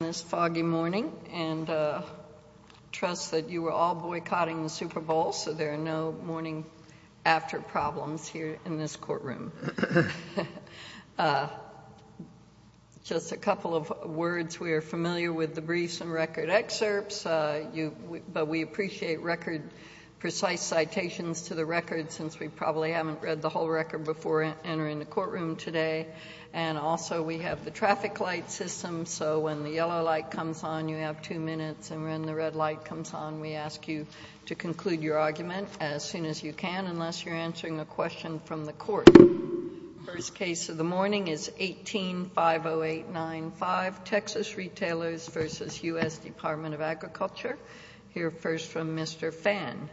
this foggy morning and trust that you were all boycotting the Super Bowl so there are no morning after problems here in this courtroom. Just a couple of words, we are familiar with the briefs and record excerpts but we appreciate record precise citations to the record since we probably haven't read the whole record before entering the courtroom today and also we have the traffic light system so when the yellow light comes on you have two minutes and when the red light comes on we ask you to conclude your argument as soon as you can unless you are answering a question from the court. The first case of the morning is 18-50895 Texas Retailers v. U.S. Department of Agriculture. We will hear first from Mr. Phan.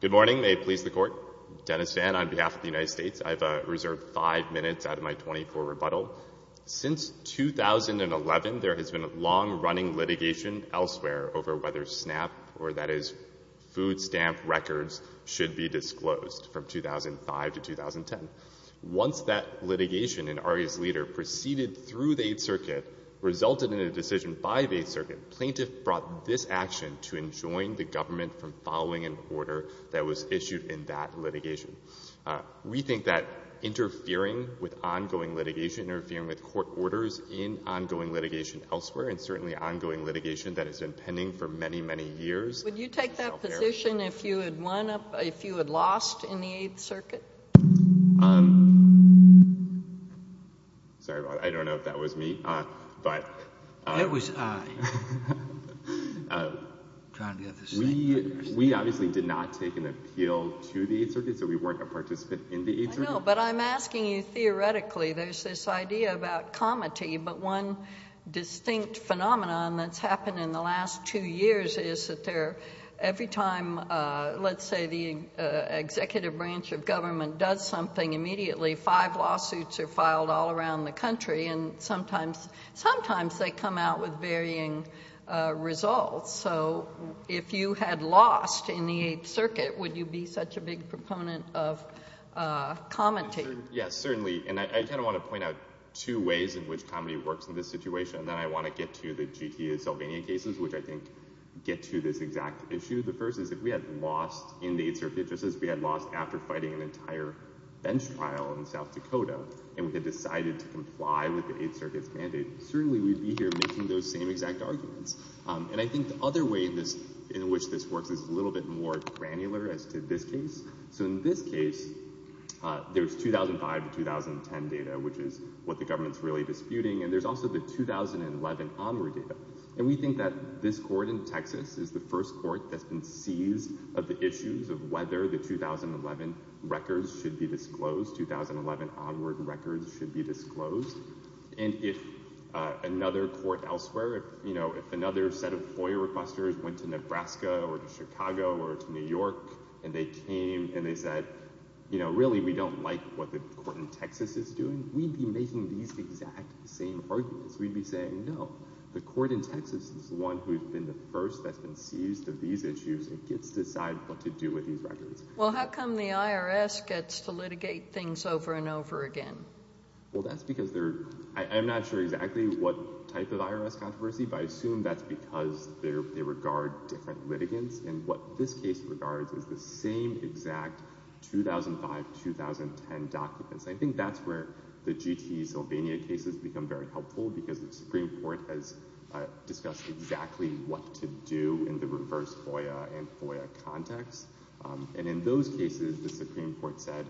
Good morning. May it please the court. Dennis Phan on behalf of the United States. I have reserved five minutes out of my 24 rebuttal. Since 2011 there has been a long running litigation elsewhere over whether SNAP or that is food stamp records should be disclosed from 2005 to 2010. Once that litigation and ARIA's leader proceeded through the 8th Circuit resulted in a decision by the 8th Circuit, plaintiff brought this action to enjoin the government from following an order that was issued in that litigation. We think that interfering with ongoing litigation, interfering with court orders in ongoing litigation elsewhere and certainly ongoing litigation that has been pending for many, many years. Would you take that position if you had won, if you had lost in the 8th Circuit? Sorry about that, I don't know if that was me. That was I. We obviously did not take an appeal to the 8th Circuit, so we weren't a participant in the 8th Circuit. I know, but I'm asking you theoretically. There's this idea about comity, but one distinct phenomenon that's happened in the last two years is that there, every time let's say the executive branch of government does something immediately, five lawsuits are filed all around the country and sometimes they come out with varying results. If you had lost in the 8th Circuit, would you be such a big proponent of comity? Yes, certainly. I kind of want to point out two ways in which comity works in this situation. Then I want to get to the GTA Sylvania cases, which I think get to this exact issue. The first is if we had lost in the 8th Circuit just as we had lost after fighting an entire bench trial in South Dakota and we had decided to comply with the 8th Circuit's mandate, certainly we'd be here making those same exact arguments. I think the other way in which this works is a little bit more granular as to this case. In this case, there's 2005 to 2010 data, which is what the government's really disputing, and there's also the 2011 onward data. We think that this court in Texas is the first court that's been seized of the issues of whether the 2011 records should be disclosed, 2011 onward records should be disclosed. If another court elsewhere, if another set of lawyer requesters went to Nebraska or to Chicago or to New York and they came and they said, really, we don't like what the court in Texas is doing, we'd be making these exact same arguments. We'd be saying, no, the court in Texas is the one who's been the first that's been seized of these issues and gets to decide what to do with these records. Well, how come the IRS gets to litigate things over and over again? Well, that's because they're, I'm not sure exactly what type of IRS controversy, but I assume that's because they regard different litigants, and what this case regards is the same exact 2005-2010 documents. I think that's where the GTE Sylvania case has become very helpful because the Supreme Court has discussed exactly what to do in the reverse FOIA and FOIA context, and in those cases, the Supreme Court said,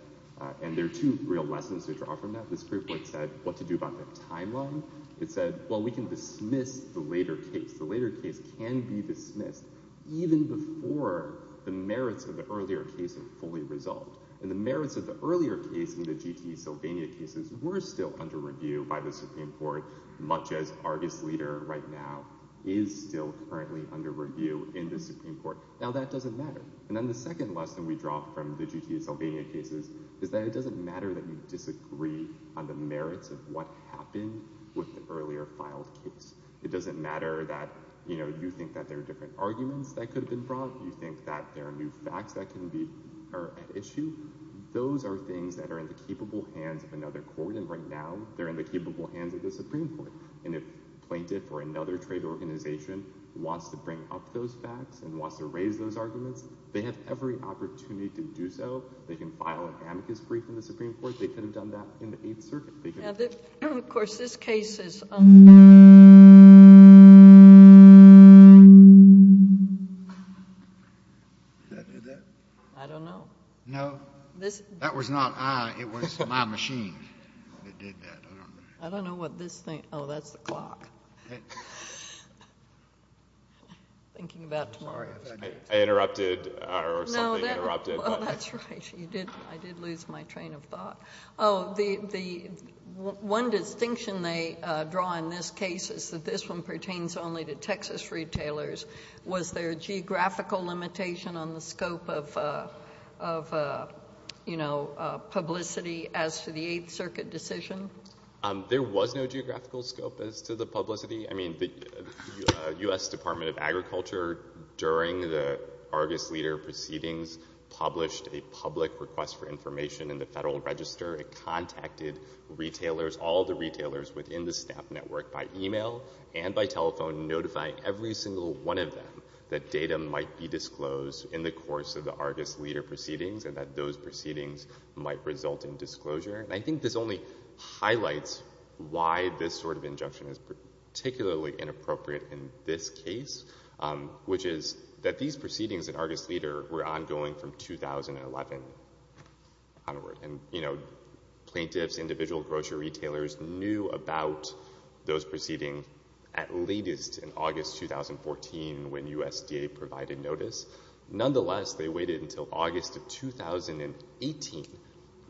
and there are two real lessons to draw from that. The Supreme Court said what to do about the timeline. It said, well, we can dismiss the later case. The later case can be dismissed even before the merits of the earlier case are fully resolved. And the merits of the earlier case in the GTE Sylvania cases were still under review by the Supreme Court, much as Argus Leader right now is still currently under review in the Supreme Court. Now, that doesn't matter. And then the second lesson we draw from the GTE Sylvania cases is that it doesn't matter that you disagree on the merits of what happened with the earlier filed case. It doesn't matter that, you know, you think that there are different arguments that could have been brought. You think that there are new facts that can be, are at issue. Those are things that are in the capable hands of another court, and right now, they're in the capable hands of the Supreme Court. And if a plaintiff or another trade organization wants to bring up those facts and wants to do so, they have every opportunity to do so. They can file an amicus brief in the Supreme Court. They could have done that in the Eighth Circuit. They could have— Now, of course, this case is— Did that do that? I don't know. No. That was not I. It was my machine that did that. I don't know. I don't know what this thing—oh, that's the clock. I'm thinking about tomorrow. I interrupted, or something interrupted. Oh, that's right. You did. I did lose my train of thought. Oh, the one distinction they draw in this case is that this one pertains only to Texas retailers. Was there a geographical limitation on the scope of, you know, publicity as to the Eighth Circuit decision? There was no geographical scope as to the publicity. I mean, the U.S. Department of Agriculture, during the Argus Leader proceedings, published a public request for information in the Federal Register. It contacted retailers, all the retailers within the SNAP network, by email and by telephone, notifying every single one of them that data might be disclosed in the course of the Argus Leader proceedings and that those proceedings might result in disclosure. And I think this only highlights why this sort of injunction is particularly inappropriate in this case, which is that these proceedings at Argus Leader were ongoing from 2011 onward. And, you know, plaintiffs, individual grocery retailers, knew about those proceedings at latest in August 2014 when USDA provided notice. Nonetheless, they waited until August of 2018,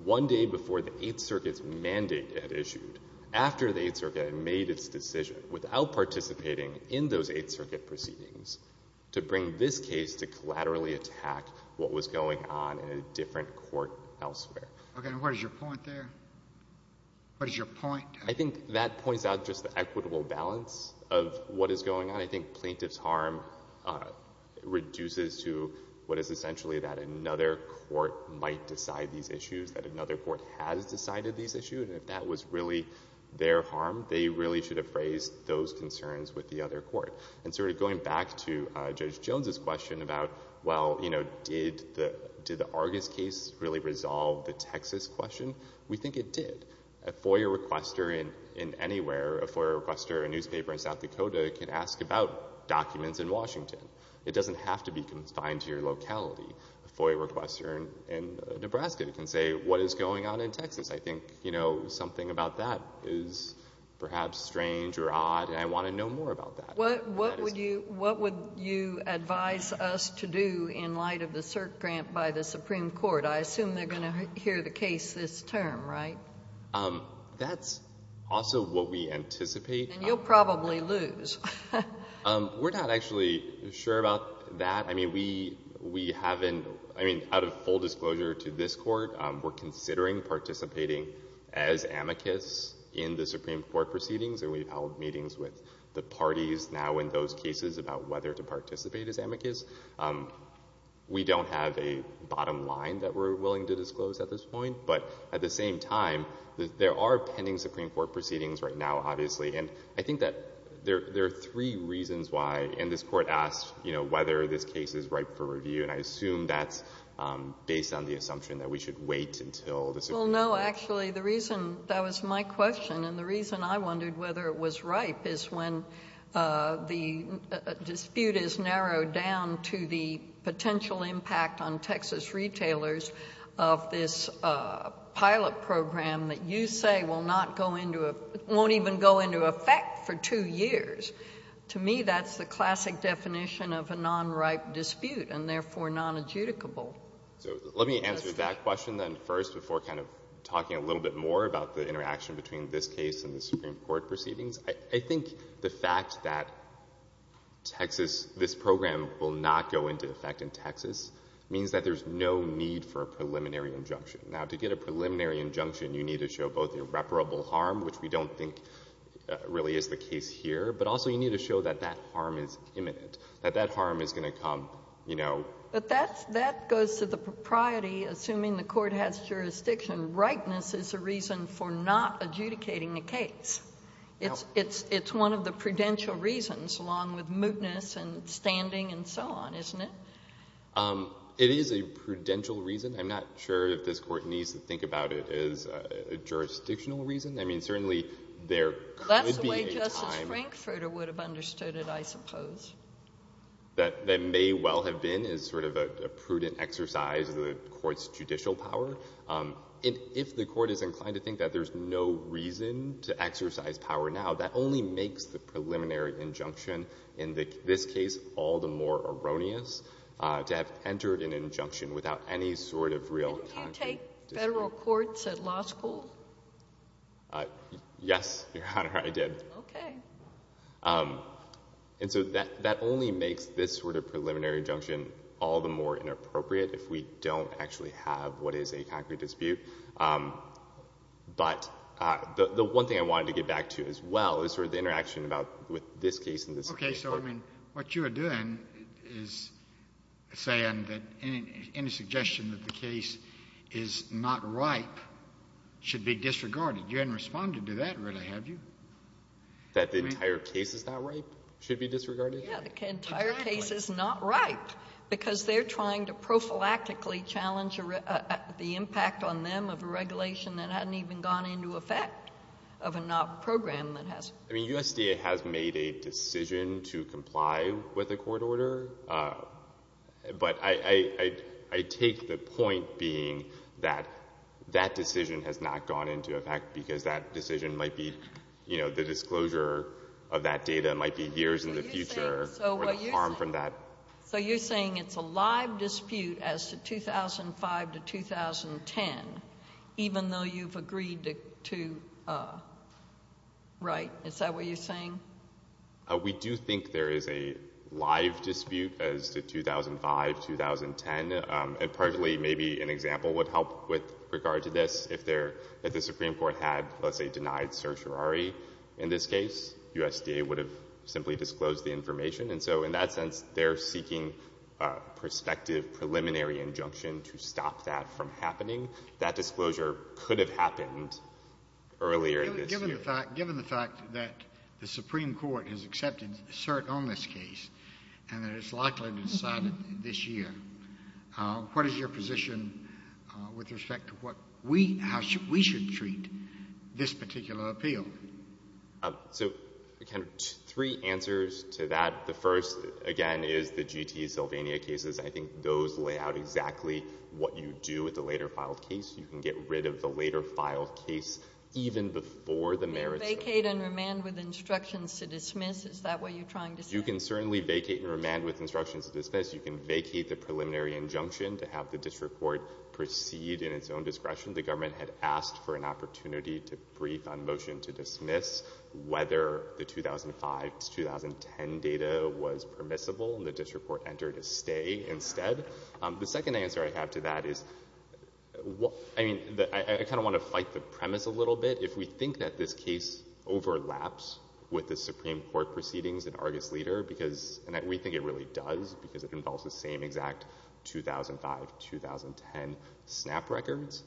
one day before the Eighth Circuit's mandate had issued, after the Eighth Circuit had made its decision, without participating in those Eighth Circuit proceedings, to bring this case to collaterally attack what was going on in a different court elsewhere. Okay. And what is your point there? What is your point? I think that points out just the equitable balance of what is going on. And I think plaintiff's harm reduces to what is essentially that another court might decide these issues, that another court has decided these issues, and if that was really their harm, they really should have raised those concerns with the other court. And sort of going back to Judge Jones's question about, well, you know, did the Argus case really resolve the Texas question? We think it did. I think a FOIA requester in anywhere, a FOIA requester in a newspaper in South Dakota can ask about documents in Washington. It doesn't have to be confined to your locality. A FOIA requester in Nebraska can say, what is going on in Texas? I think, you know, something about that is perhaps strange or odd, and I want to know more about that. What would you advise us to do in light of the cert grant by the Supreme Court? I assume they're going to hear the case this term, right? That's also what we anticipate. And you'll probably lose. We're not actually sure about that. I mean, we haven't, I mean, out of full disclosure to this court, we're considering participating as amicus in the Supreme Court proceedings, and we've held meetings We don't have a bottom line that we're willing to disclose at this point. But at the same time, there are pending Supreme Court proceedings right now, obviously. And I think that there are three reasons why, and this court asked, you know, whether this case is ripe for review. And I assume that's based on the assumption that we should wait until the Supreme Court. Well, no, actually, the reason, that was my question, and the reason I wondered whether it was ripe is when the dispute is narrowed down to the potential impact on Texas retailers of this pilot program that you say will not go into a, won't even go into effect for two years. To me, that's the classic definition of a non-ripe dispute, and therefore non-adjudicable. So let me answer that question then first before kind of talking a little bit more about the interaction between this case and the Supreme Court proceedings. I think the fact that Texas, this program will not go into effect in Texas means that there's no need for a preliminary injunction. Now, to get a preliminary injunction, you need to show both irreparable harm, which we don't think really is the case here, but also you need to show that that harm is imminent, that that harm is going to come, you know. But that goes to the propriety, assuming the court has jurisdiction. Rightness is a reason for not adjudicating the case. It's one of the prudential reasons, along with mootness and standing and so on, isn't it? It is a prudential reason. I'm not sure if this court needs to think about it as a jurisdictional reason. I mean, certainly there could be a time. That's the way Justice Frankfurter would have understood it, I suppose. That may well have been as sort of a prudent exercise of the court's judicial power. And if the court is inclined to think that there's no reason to exercise power now, that only makes the preliminary injunction in this case all the more erroneous to have entered an injunction without any sort of real concrete discussion. Did you take federal courts at law school? Yes, Your Honor, I did. Okay. And so that only makes this sort of preliminary injunction all the more erroneous to have entered an injunction without any sort of real concrete I don't know what is a concrete dispute. But the one thing I wanted to get back to as well is sort of the interaction about with this case and this case. Okay. So, I mean, what you are doing is saying that any suggestion that the case is not ripe should be disregarded. You haven't responded to that, really, have you? That the entire case is not ripe should be disregarded? Yeah. The entire case is not ripe because they're trying to prophylactically challenge the impact on them of a regulation that hadn't even gone into effect of a program that has. I mean, USDA has made a decision to comply with the court order. But I take the point being that that decision has not gone into effect because that decision might be, you know, the disclosure of that data might be years in the future or the harm from that. So you're saying it's a live dispute as to 2005 to 2010, even though you've agreed to write. Is that what you're saying? We do think there is a live dispute as to 2005, 2010. And partly maybe an example would help with regard to this. If the Supreme Court had, let's say, denied certiorari in this case, USDA would have simply disclosed the information. And so in that sense, they're seeking prospective preliminary injunction to stop that from happening. That disclosure could have happened earlier this year. Given the fact that the Supreme Court has accepted cert on this case and that it's likely to decide it this year, what is your position with respect to how we should treat this particular appeal? So three answers to that. The first, again, is the G.T. Sylvania cases. I think those lay out exactly what you do with the later filed case. You can get rid of the later filed case even before the merits... You can vacate and remand with instructions to dismiss. Is that what you're trying to say? You can certainly vacate and remand with instructions to dismiss. You can vacate the preliminary injunction to have the district court proceed in its own discretion. The government had asked for an opportunity to brief on motion to dismiss whether the 2005-2010 data was permissible, and the district court entered a stay instead. The second answer I have to that is... I kind of want to fight the premise a little bit. If we think that this case overlaps with the Supreme Court proceedings in Argus Leader, and we think it really does, because it involves the same exact 2005-2010 snap records,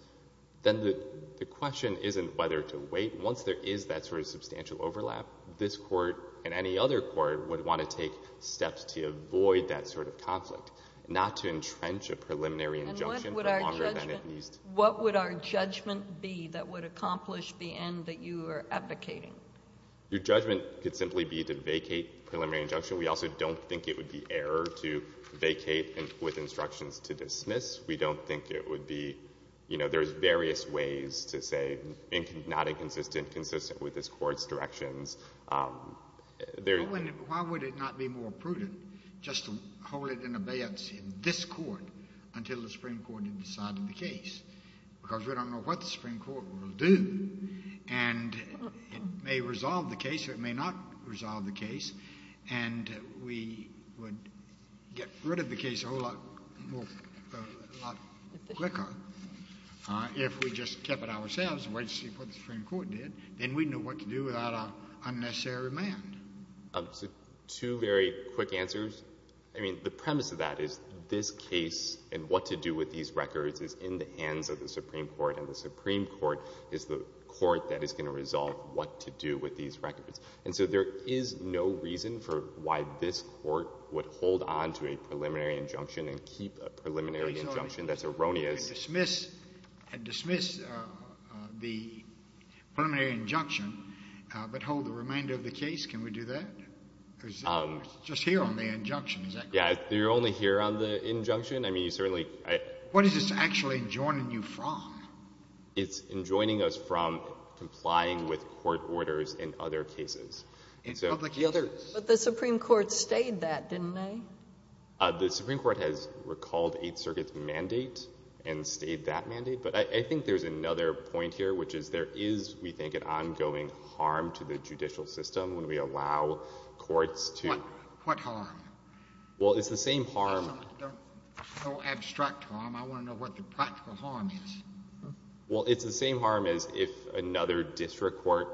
then the question isn't whether to wait. Once there is that sort of substantial overlap, this court and any other court would want to take steps to avoid that sort of conflict, not to entrench a preliminary injunction for longer than it needs to. And what would our judgment be that would accomplish the end that you are advocating? Your judgment could simply be to vacate preliminary injunction. We also don't think it would be error to vacate with instructions to dismiss. We don't think it would be... You know, there's various ways to say not inconsistent, consistent with this court's directions. Why would it not be more prudent just to hold it in abeyance in this court until the Supreme Court had decided the case? Because we don't know what the Supreme Court will do, and it may resolve the case or it may not resolve the case, and we would get rid of the case a whole lot quicker if we just kept it ourselves and waited to see what the Supreme Court did. Then we'd know what to do without an unnecessary demand. Two very quick answers. I mean, the premise of that is this case and what to do with these records is in the hands of the Supreme Court, and the Supreme Court is the court that is going to resolve what to do with these records. And so there is no reason for why this court would hold on to a preliminary injunction and keep a preliminary injunction that's erroneous... And dismiss the preliminary injunction but hold the remainder of the case. Can we do that? Or is it just here on the injunction? Yeah, you're only here on the injunction. I mean, you certainly... What is this actually enjoining you from? It's enjoining us from complying with court orders in other cases. But the Supreme Court stayed that, didn't they? The Supreme Court has recalled Eighth Circuit's mandate and stayed that mandate. But I think there's another point here, which is there is, we think, an ongoing harm to the judicial system when we allow courts to... What harm? Well, it's the same harm... No abstract harm. I want to know what the practical harm is. Well, it's the same harm as if another district court,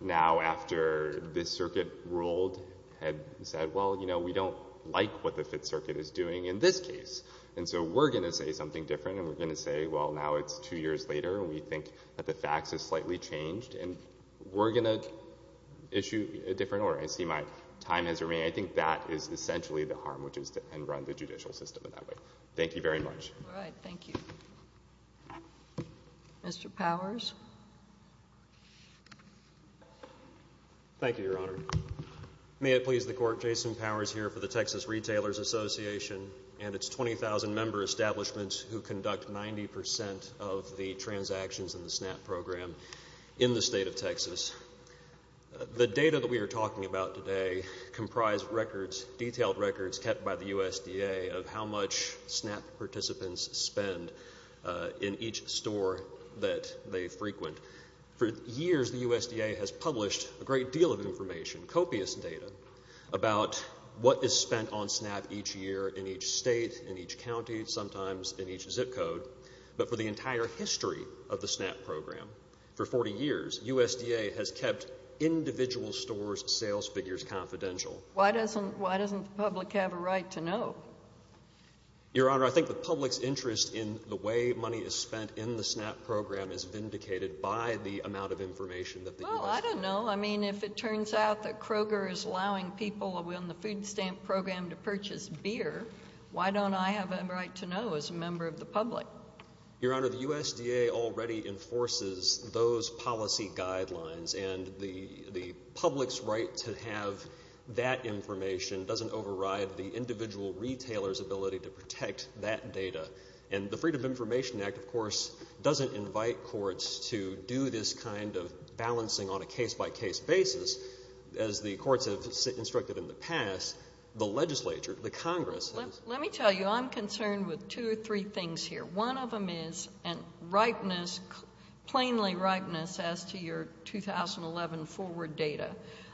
now after this circuit ruled, had said, well, you know, we don't like what the Fifth Circuit is doing in this case. And so we're going to say something different and we're going to say, well, now it's two years later and we think that the facts have slightly changed and we're going to issue a different order. I see my time has remained. I think that is essentially the harm, which is to end-run the judicial system in that way. Thank you very much. All right, thank you. Mr. Powers? Thank you, Your Honor. May it please the Court, Jason Powers here for the Texas Retailers Association and its 20,000-member establishment who conduct 90 percent of the transactions in the SNAP program in the state of Texas. The data that we are talking about today comprise records, detailed records kept by the USDA of how much SNAP participants spend in each store that they frequent. For years, the USDA has published a great deal of information, copious data, about what is spent on SNAP each year in each state, in each county, sometimes in each zip code. But for the entire history of the SNAP program, for 40 years, USDA has kept individual stores' sales figures confidential. Why doesn't the public have a right to know? Your Honor, I think the public's interest in the way money is spent in the SNAP program is vindicated by the amount of information that the USDA— Well, I don't know. I mean, if it turns out that Kroger is allowing people in the food stamp program to purchase beer, why don't I have a right to know as a member of the public? Your Honor, the USDA already enforces those policy guidelines, and the public's right to have that information doesn't override the individual retailer's ability to protect that data. And the Freedom of Information Act, of course, doesn't invite courts to do this kind of balancing on a case-by-case basis. As the courts have instructed in the past, the legislature, the Congress— Let me tell you, I'm concerned with two or three things here. One of them is plainly ripeness as to your 2011 forward data.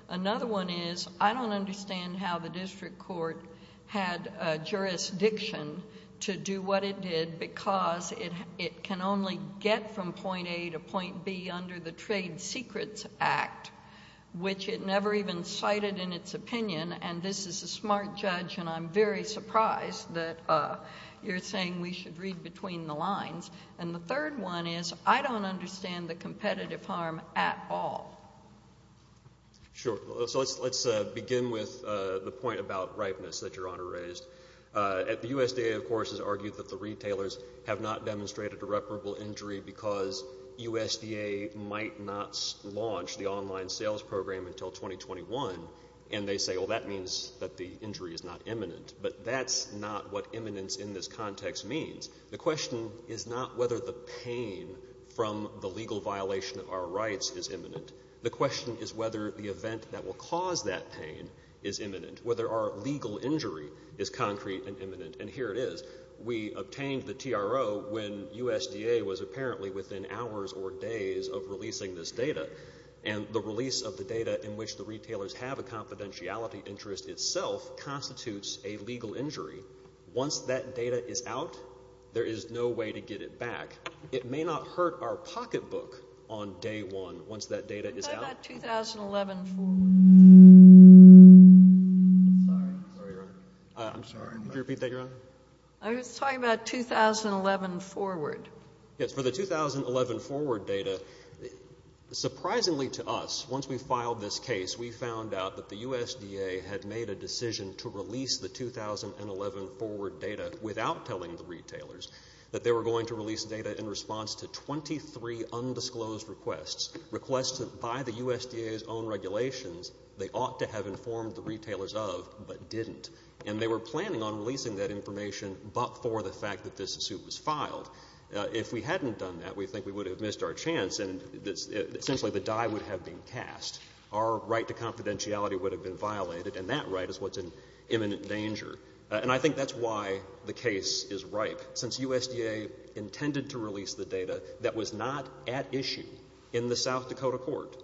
Another one is I don't understand how the district court had jurisdiction to do what it did because it can only get from point A to point B under the Trade Secrets Act, which it never even cited in its opinion. And this is a smart judge, and I'm very surprised that you're saying we should read between the lines. And the third one is I don't understand the competitive harm at all. Sure. So let's begin with the point about ripeness that Your Honor raised. The USDA, of course, has argued that the retailers have not demonstrated irreparable injury because USDA might not launch the online sales program until 2021, and they say, well, that means that the injury is not imminent. But that's not what imminence in this context means. The question is not whether the pain from the legal violation of our rights is imminent. The question is whether the event that will cause that pain is imminent, whether our legal injury is concrete and imminent, and here it is. We obtained the TRO when USDA was apparently within hours or days of releasing this data, and the release of the data in which the retailers have a confidentiality interest itself constitutes a legal injury. Once that data is out, there is no way to get it back. It may not hurt our pocketbook on day one once that data is out. What about 2011 forward? I'm sorry. Sorry, Your Honor. I'm sorry. Could you repeat that, Your Honor? I was talking about 2011 forward. Yes, for the 2011 forward data, surprisingly to us, once we filed this case, we found out that the USDA had made a decision to release the 2011 forward data without telling the retailers that they were going to release data in response to 23 undisclosed requests, requests by the USDA's own regulations they ought to have informed the retailers of but didn't, and they were planning on releasing that information but for the fact that this suit was filed. If we hadn't done that, we think we would have missed our chance, and essentially the die would have been cast. Our right to confidentiality would have been violated, and that right is what's in imminent danger, and I think that's why the case is ripe. Since USDA intended to release the data that was not at issue in the South Dakota court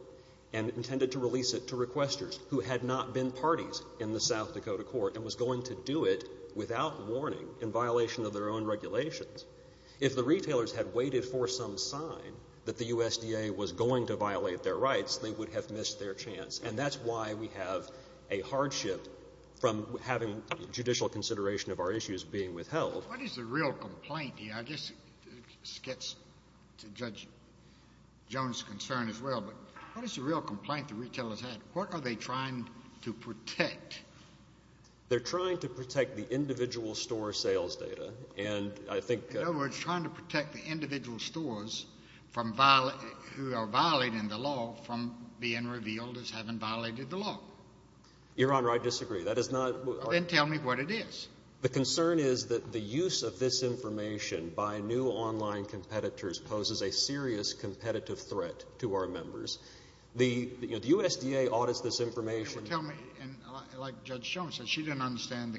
and intended to release it to requesters who had not been parties in the South Dakota court and was going to do it without warning in violation of their own regulations, if the retailers had waited for some sign that the USDA was going to violate their rights, they would have missed their chance, and that's why we have a hardship from having judicial consideration of our issues being withheld. What is the real complaint here? I guess this gets to Judge Jones' concern as well, but what is the real complaint the retailers had? What are they trying to protect? They're trying to protect the individual store sales data. In other words, trying to protect the individual stores who are violating the law from being revealed as having violated the law. Your Honor, I disagree. Then tell me what it is. The concern is that the use of this information by new online competitors poses a serious competitive threat to our members. The USDA audits this information. Well, tell me, like Judge Jones said, she didn't understand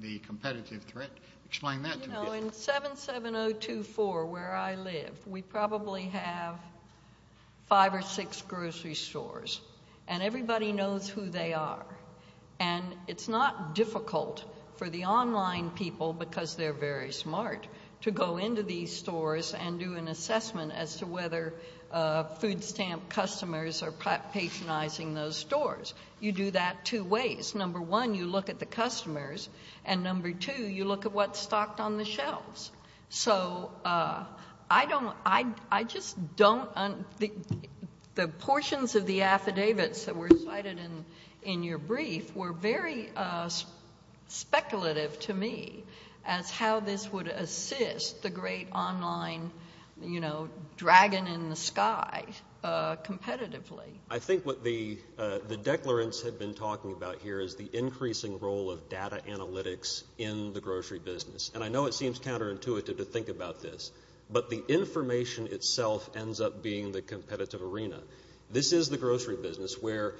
the competitive threat. Explain that to me. In 77024, where I live, we probably have five or six grocery stores, and everybody knows who they are, and it's not difficult for the online people, because they're very smart, to go into these stores and do an assessment as to whether food stamp customers are patronizing those stores. You do that two ways. Number one, you look at the customers, and number two, you look at what's stocked on the shelves. The portions of the affidavits that were cited in your brief were very speculative to me as how this would assist the great online dragon in the sky competitively. I think what the declarants have been talking about here is the increasing role of data analytics in the grocery business. And I know it seems counterintuitive to think about this, but the information itself ends up being the competitive arena. This is the grocery business where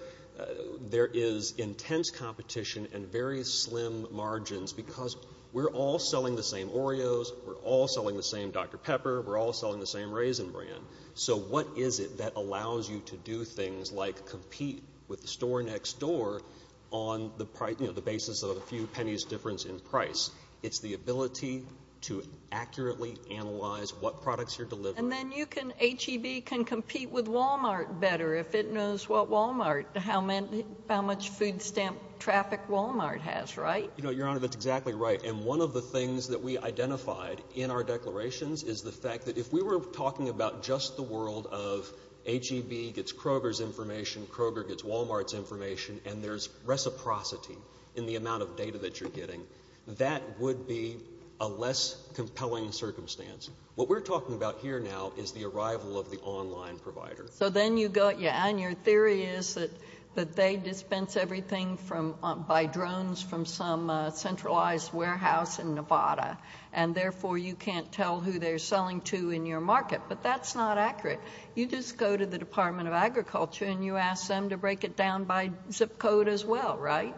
there is intense competition and very slim margins because we're all selling the same Oreos. We're all selling the same Dr. Pepper. We're all selling the same Raisin Bran. So what is it that allows you to do things like compete with the store next door on the basis of a few pennies difference in price? It's the ability to accurately analyze what products you're delivering. And then HEB can compete with Walmart better if it knows what Walmart, how much food stamp traffic Walmart has, right? Your Honor, that's exactly right. And one of the things that we identified in our declarations is the fact that if we were talking about just the world of HEB gets Kroger's information, Kroger gets Walmart's information, and there's reciprocity in the amount of data that you're getting, that would be a less compelling circumstance. What we're talking about here now is the arrival of the online provider. So then you go, and your theory is that they dispense everything by drones from some centralized warehouse in Nevada, and therefore you can't tell who they're selling to in your market. But that's not accurate. You just go to the Department of Agriculture and you ask them to break it down by zip code as well, right?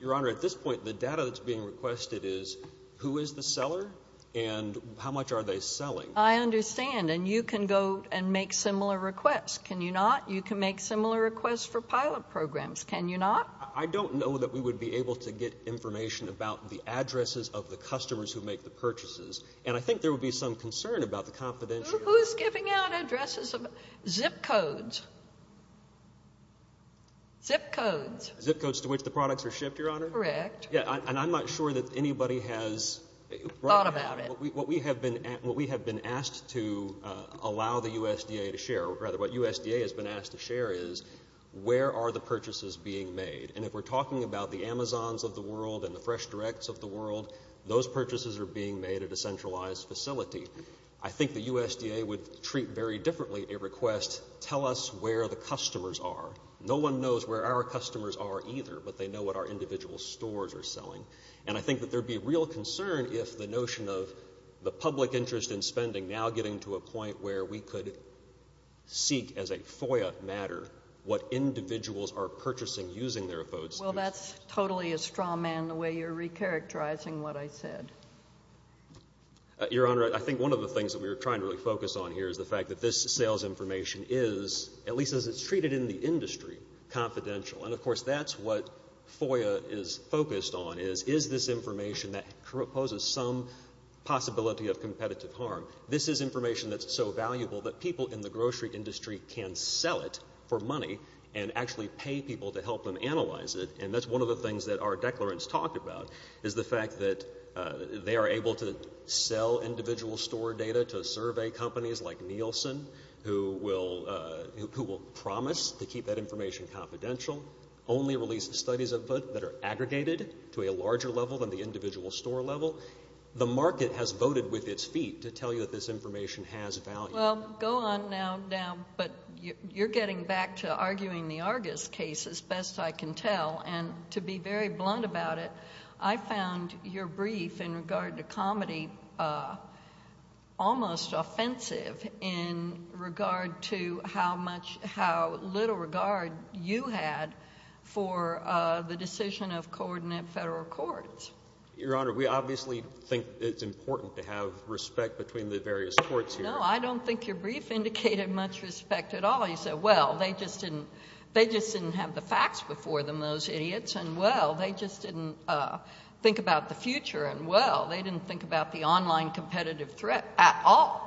Your Honor, at this point the data that's being requested is who is the seller and how much are they selling. I understand, and you can go and make similar requests. Can you not? You can make similar requests for pilot programs. Can you not? I don't know that we would be able to get information about the addresses of the customers who make the purchases, and I think there would be some concern about the confidentiality. Who's giving out addresses? Zip codes. Zip codes. Zip codes to which the products are shipped, Your Honor? Correct. Yeah, and I'm not sure that anybody has thought about it. What we have been asked to allow the USDA to share, or rather what USDA has been asked to share is, where are the purchases being made? And if we're talking about the Amazons of the world and the Fresh Directs of the world, those purchases are being made at a centralized facility. I think the USDA would treat very differently a request, tell us where the customers are. No one knows where our customers are either, but they know what our individual stores are selling. And I think that there would be real concern if the notion of the public interest in spending now getting to a point where we could seek as a FOIA matter what individuals are purchasing using their phone systems. Well, that's totally a straw man, the way you're recharacterizing what I said. Your Honor, I think one of the things that we were trying to really focus on here is the fact that this sales information is, at least as it's treated in the industry, confidential. And, of course, that's what FOIA is focused on, is this information that poses some possibility of competitive harm. This is information that's so valuable that people in the grocery industry can sell it for money and actually pay people to help them analyze it. And that's one of the things that our declarants talked about is the fact that they are able to sell individual store data to survey companies like Nielsen, who will promise to keep that information confidential, only release studies of it that are aggregated to a larger level than the individual store level. The market has voted with its feet to tell you that this information has value. Well, go on now. But you're getting back to arguing the Argus case, as best I can tell. And to be very blunt about it, I found your brief in regard to comedy almost offensive in regard to how little regard you had for the decision of coordinate federal courts. Your Honor, we obviously think it's important to have respect between the various courts here. No, I don't think your brief indicated much respect at all. You said, well, they just didn't have the facts before them, those idiots, and, well, they just didn't think about the future, and, well, they didn't think about the online competitive threat at all.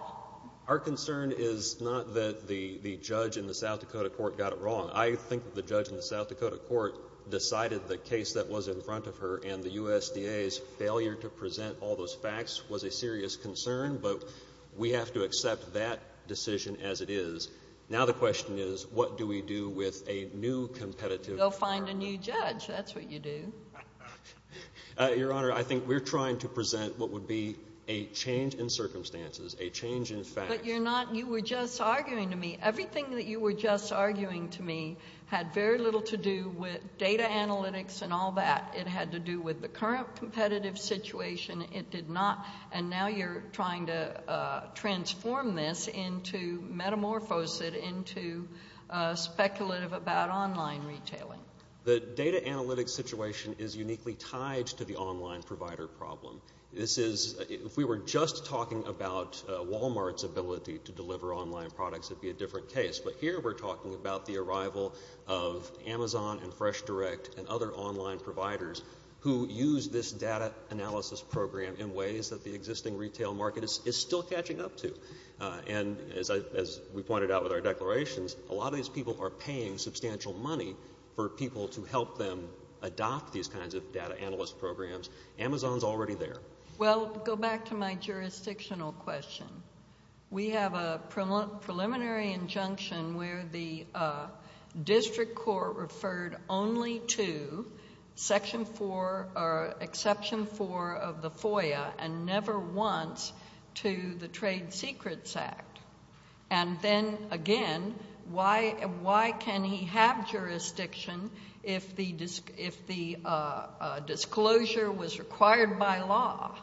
Our concern is not that the judge in the South Dakota court got it wrong. I think the judge in the South Dakota court decided the case that was in front of her and the USDA's failure to present all those facts was a serious concern, but we have to accept that decision as it is. Now the question is, what do we do with a new competitive... Go find a new judge. That's what you do. Your Honor, I think we're trying to present what would be a change in circumstances, a change in facts. But you're not... You were just arguing to me. Everything that you were just arguing to me had very little to do with data analytics and all that. It had to do with the current competitive situation. It did not. And now you're trying to transform this into... metamorphose it into speculative about online retailing. The data analytics situation is uniquely tied to the online provider problem. This is... If we were just talking about Walmart's ability to deliver online products, it'd be a different case. But here we're talking about the arrival of Amazon and Fresh Direct and other online providers who use this data analysis program in ways that the existing retail market is still catching up to. And as we pointed out with our declarations, a lot of these people are paying substantial money for people to help them adopt these kinds of data analyst programs. Amazon's already there. Well, go back to my jurisdictional question. We have a preliminary injunction where the district court referred only to Section 4, or Exception 4 of the FOIA and never once to the Trade Secrets Act. And then, again, why can he have jurisdiction if the disclosure was required by law?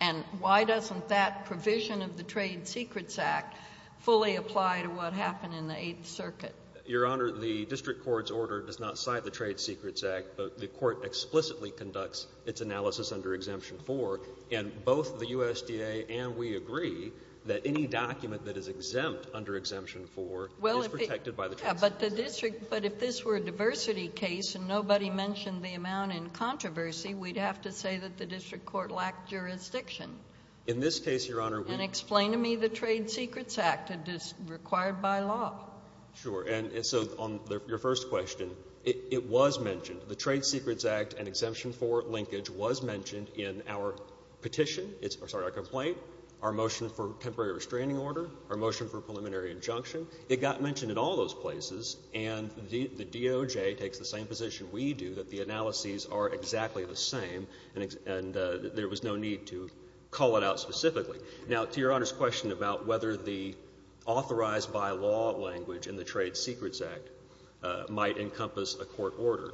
And why doesn't that provision of the Trade Secrets Act fully apply to what happened in the Eighth Circuit? Your Honor, the district court's order does not cite the Trade Secrets Act. The court explicitly conducts its analysis under Exemption 4. And both the USDA and we agree that any document that is exempt under Exemption 4 is protected by the... Yeah, but if this were a diversity case and nobody mentioned the amount in controversy, we'd have to say that the district court lacked jurisdiction. In this case, Your Honor, we... And explain to me the Trade Secrets Act. It is required by law. Sure, and so on your first question, it was mentioned. The Trade Secrets Act and Exemption 4 linkage was mentioned in our petition... Sorry, our complaint, our motion for temporary restraining order, our motion for preliminary injunction. It got mentioned in all those places, and the DOJ takes the same position we do, that the analyses are exactly the same, and there was no need to call it out specifically. Now, to Your Honor's question about whether the authorized-by-law language in the Trade Secrets Act might encompass a court order,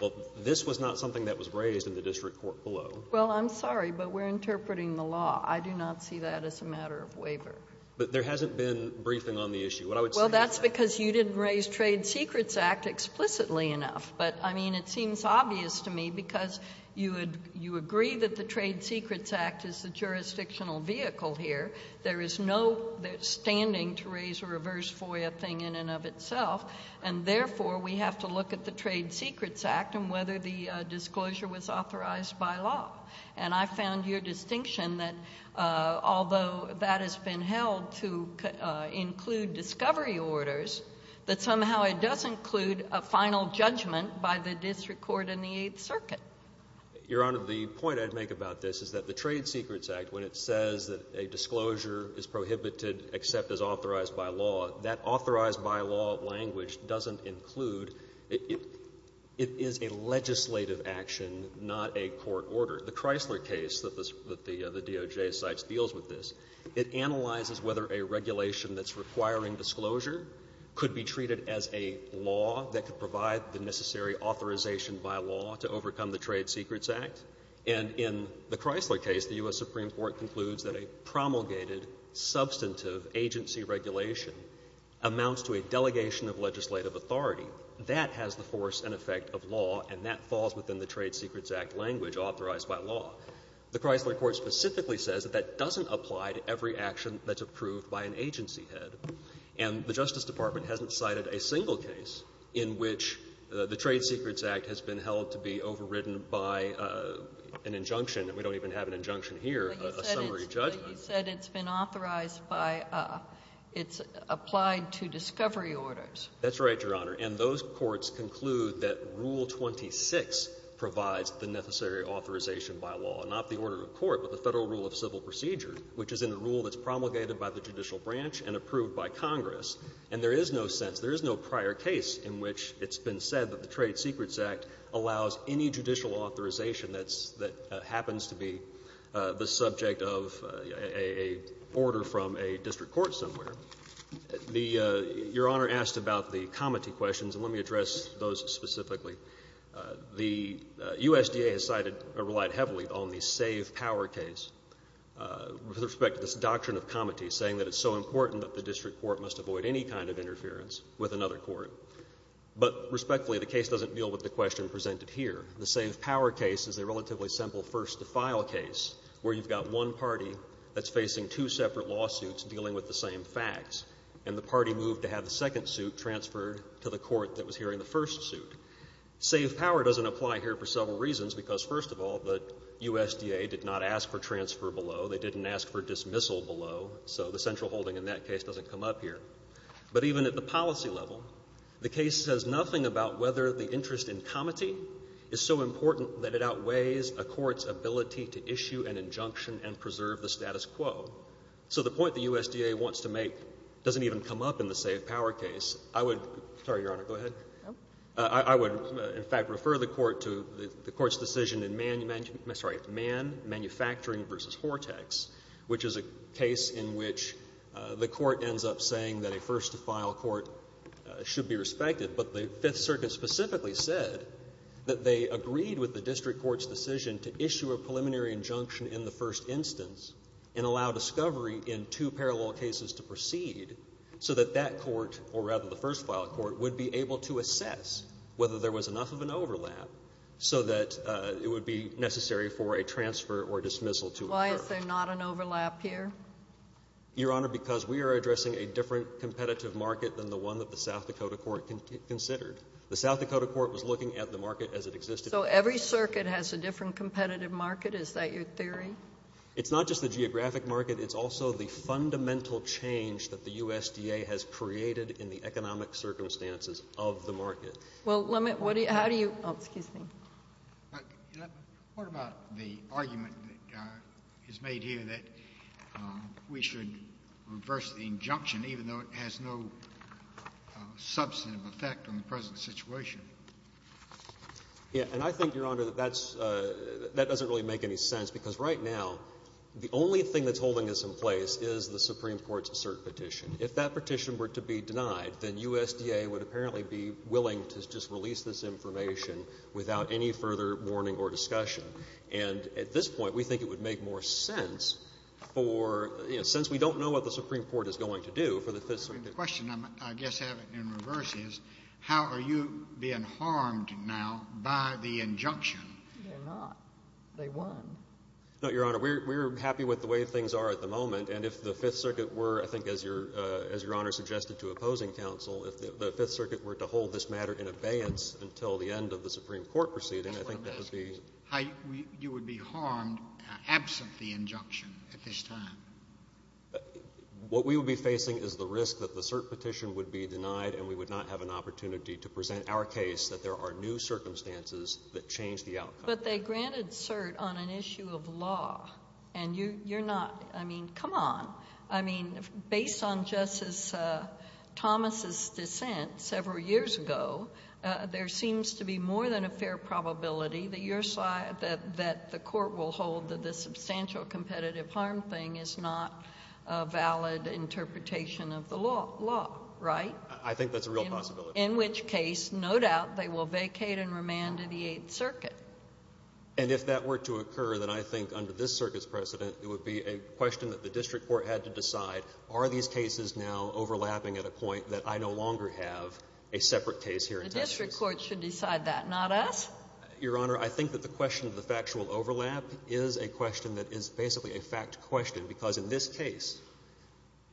well, this was not something that was raised in the district court below. Well, I'm sorry, but we're interpreting the law. I do not see that as a matter of waiver. But there hasn't been briefing on the issue. What I would say is that... Well, that's because you didn't raise the Trade Secrets Act explicitly enough. But, I mean, it seems obvious to me because you agree that the Trade Secrets Act is the jurisdictional vehicle here. There is no standing to raise a reverse FOIA thing in and of itself, and therefore we have to look at the Trade Secrets Act and whether the disclosure was authorized by law. And I found your distinction that although that has been held to include discovery orders, that somehow it does include a final judgment by the district court in the Eighth Circuit. Your Honor, the point I'd make about this is that the Trade Secrets Act, when it says that a disclosure is prohibited except as authorized by law, that authorized-by-law language doesn't include... It is a legislative action, not a court order. The Chrysler case that the DOJ cites deals with this. It analyzes whether a regulation that's requiring disclosure could be treated as a law that could provide the necessary authorization by law to overcome the Trade Secrets Act. And in the Chrysler case, the U.S. Supreme Court concludes that a promulgated, substantive agency regulation amounts to a delegation of legislative authority. That has the force and effect of law, and that falls within the Trade Secrets Act language authorized by law. The Chrysler court specifically says that that doesn't apply to every action that's approved by an agency head. And the Justice Department hasn't cited a single case in which the Trade Secrets Act has been held to be overridden by an injunction. We don't even have an injunction here. A summary judgment. But you said it's been authorized by... It's applied to discovery orders. That's right, Your Honor. And those courts conclude that Rule 26 provides the necessary authorization by law. Not the order of court, but the Federal Rule of Civil Procedure, which is in the rule that's promulgated by the judicial branch and approved by Congress. And there is no sense, there is no prior case in which it's been said that the Trade Secrets Act allows any judicial authorization that happens to be the subject of an order from a district court somewhere. Your Honor asked about the comity questions, and let me address those specifically. The USDA has relied heavily on the Save Power case with respect to this doctrine of comity, saying that it's so important that the district court must avoid any kind of interference with another court. But respectfully, the case doesn't deal with the question presented here. The Save Power case is a relatively simple first-to-file case, where you've got one party that's facing two separate lawsuits dealing with the same facts, and the party moved to have the second suit transferred to the court that was hearing the first suit. Save Power doesn't apply here for several reasons, because first of all, the USDA did not ask for transfer below. They didn't ask for dismissal below, so the central holding in that case doesn't come up here. But even at the policy level, the case says nothing about whether the interest in comity is so important that it outweighs a court's ability to issue an injunction and preserve the status quo. So the point the USDA wants to make doesn't even come up in the Save Power case. I would—sorry, Your Honor, go ahead. I would, in fact, refer the court to the court's decision in Mann Manufacturing v. Hortex, which is a case in which the court ends up saying that a first-to-file court should be respected, but the Fifth Circuit specifically said that they agreed with the district court's decision to issue a preliminary injunction in the first instance and allow discovery in two parallel cases to proceed so that that court, or rather the first-file court, would be able to assess whether there was enough of an overlap so that it would be necessary for a transfer or dismissal to occur. Why is there not an overlap here? Your Honor, because we are addressing a different competitive market than the one that the South Dakota court considered. The South Dakota court was looking at the market as it existed—So every circuit has a different competitive market? Is that your theory? It's not just the geographic market. It's also the fundamental change that the USDA has created in the economic circumstances of the market. What about the argument that is made here that we should reverse the injunction even though it has no substantive effect on the present situation? I think, Your Honor, that doesn't really make any sense because right now, the only thing that's holding this in place is the Supreme Court's cert petition. If that were the case, the USDA would apparently be willing to just release this information without any further warning or discussion. At this point, we think it would make more sense since we don't know what the Supreme Court is going to do for the Fifth Circuit. The question I guess I have in reverse is how are you being harmed now by the injunction? They're not. They won. No, Your Honor. We're happy with the way things are at the moment. If the Fifth Circuit were to hold this matter in abeyance until the end of the Supreme Court proceeding, I think that would be... You would be harmed absent the injunction at this time. What we would be facing is the risk that the cert petition would be denied and we would not have an opportunity to present our case that there are new circumstances that change the outcome. But they granted cert on an issue of law and you're not... I mean, come on. I mean, based on Justice Thomas' dissent several years ago, there seems to be more than a fair probability that the court will hold that the substantial competitive harm thing is not a valid interpretation of the law, right? I think that's a real possibility. In which case, no doubt they will vacate and remand to the Eighth Circuit. And if that were to occur, then I think under this Circuit's precedent, it would be a question that the District Court had to decide, are these cases now overlapping at a point that I no longer have a separate case here in Texas? The District Court should decide that. Not us? Your Honor, I think that the question of the factual overlap is a question that is basically a fact question, because in this case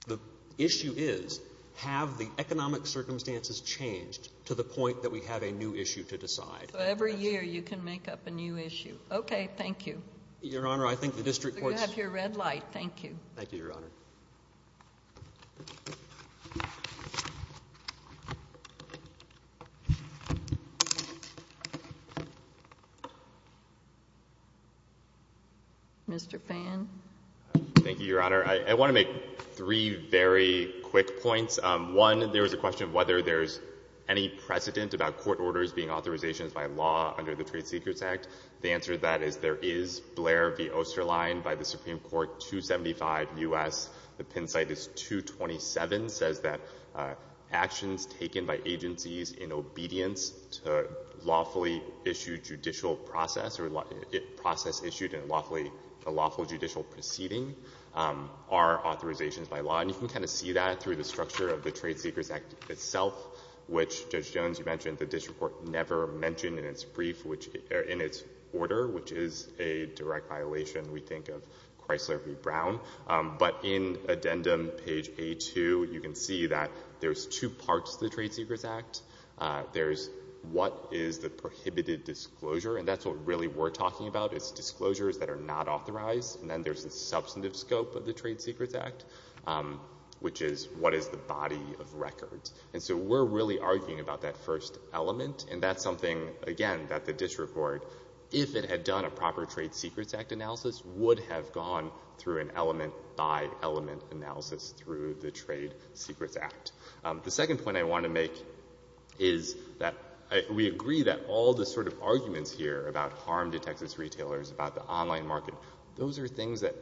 the issue is have the economic circumstances changed to the point that we have a new issue to decide. So every year you can make up a new issue. Okay. Thank you. Your Honor, I think the District Court's... You have your red light. Thank you. Thank you, Your Honor. Mr. Phan. Thank you, Your Honor. I want to make three very quick points. One, there was a question of whether there's any precedent about court orders being authorizations by law under the Trade Secrets Act. The answer to that is there is Blair v. Osterlein by the Supreme Court, 275 U.S. The pin site is 227, says that actions taken by agencies in obedience to lawfully issued judicial process or process issued in a lawful judicial proceeding are authorizations by law. And you can kind of see that through the structure of the Trade Secrets Act itself, which Judge Jones, you mentioned, the District Court never mentioned in its brief, in its order, which is a direct violation, we think, of Chrysler v. Brown. But in addendum, page A2, you can see that there's two parts to the Trade Secrets Act. There's what is the prohibited disclosure, and that's what really we're talking about. It's disclosures that are not authorized, and then there's the substantive scope of the Trade Secrets Act, which is what is the body of records. And so we're really arguing about that first element, and that's something, again, that the District Court, if it had done a proper Trade Secrets Act analysis, would have gone through an element-by- element analysis through the Trade Secrets Act. The second point I want to make is that we agree that all the sort of arguments here about harm to Texas retailers, about the online market, those are things that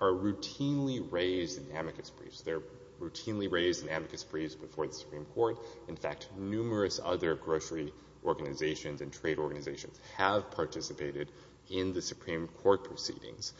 are routinely raised in amicus briefs. They're routinely raised in amicus briefs before the Supreme Court. In fact, numerous other grocery organizations and trade organizations have participated in the Supreme Court proceedings.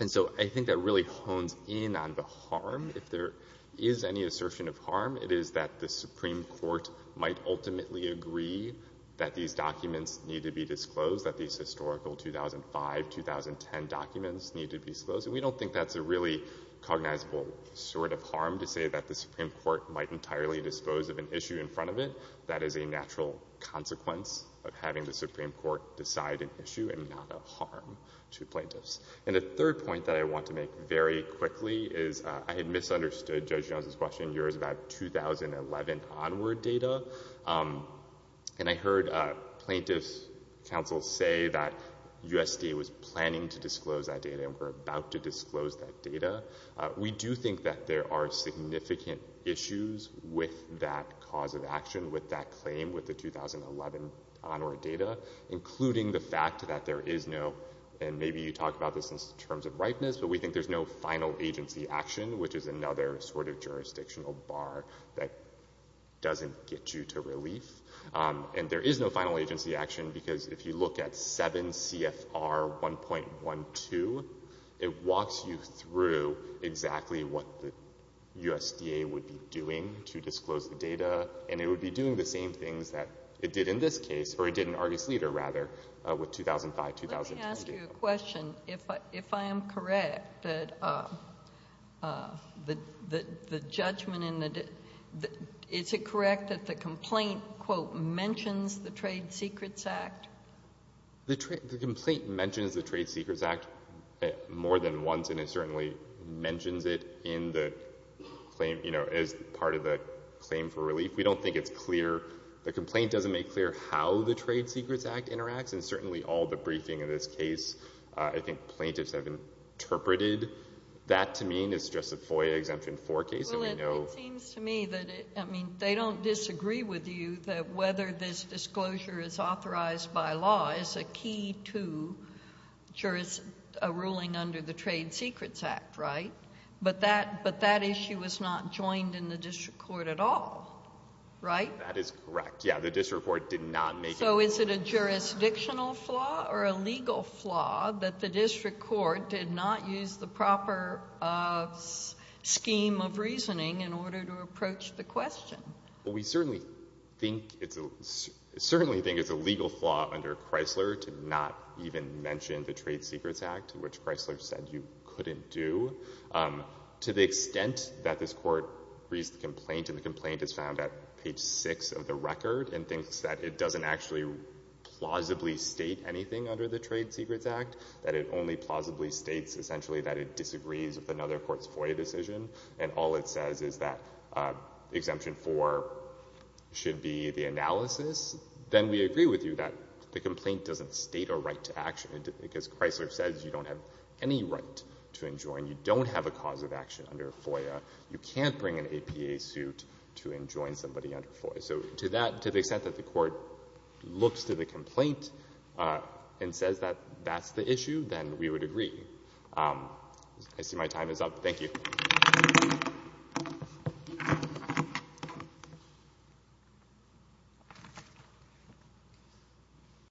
And so I think that really hones in on the harm. If there is any assertion of harm, it is that the Supreme Court might ultimately agree that these documents need to be disclosed, that these historical 2005-2010 documents need to be disclosed. And we don't think that's a really cognizable sort of harm to say that the Supreme Court might entirely dispose of an issue in front of it. That is a natural consequence of having the Supreme Court decide an issue and not a harm to plaintiffs. And the third point that I want to make very quickly is I had misunderstood Judge Jones's question. Yours is about 2011 onward data. And I heard plaintiffs' counsel say that USDA was planning to disclose that data, and we're about to disclose that data. We do think that there are significant issues with that cause of action, with that claim, with the 2011 onward data, including the fact that there is no, and maybe you talk about this in terms of ripeness, but we think there's no final agency action, which is another sort of jurisdictional bar that doesn't get you to relief. And there is no final agency action because if you look at 7 CFR 1.12, it walks you through exactly what the USDA would be doing to disclose the data, and it would be doing the same things that it did in this case, or it did in Argus Leader, rather, with 2005-2010 data. Let me ask you a question. If I am correct, the judgment in the, is it correct that the complaint, quote, mentions the Trade Secrets Act? The complaint mentions the Trade Secrets Act more than once, and it certainly mentions it in the claim, you know, as part of the claim for relief. We don't think it's clear, the complaint doesn't make clear how the Trade Secrets Act interacts, and certainly all the briefing in this case, I think plaintiffs have interpreted that to mean it's just a FOIA Exemption 4 case, and we know Well, it seems to me that, I mean, they don't disagree with you that whether this disclosure is authorized by law is a key to a ruling under the Trade Secrets Act, right? But that, but that issue was not joined in the District Court at all, right? That is correct. Yeah, the District Court did not make So is it a jurisdictional flaw or a legal flaw that the District Court did not use the proper scheme of reasoning in order to approach the question? We certainly think it's a certainly think it's a legal flaw under Chrysler to not even mention the Trade Secrets Act, which Chrysler said you couldn't do. To the extent that this Court reads the complaint, and the complaint is found at page 6 of the record, and thinks that it doesn't actually plausibly state anything under the Trade Secrets Act, that it only plausibly states essentially that it disagrees with another court's FOIA decision, and all it says is that Exemption 4 should be the analysis, then we agree with you that the complaint doesn't state a right to action because Chrysler says you don't have any right to enjoin. You don't have a cause of action under FOIA. You can't bring an APA suit to enjoin somebody under FOIA. So to the extent that the Court looks to the complaint and says that that's the issue, then we would agree. I see my time is up. Thank you.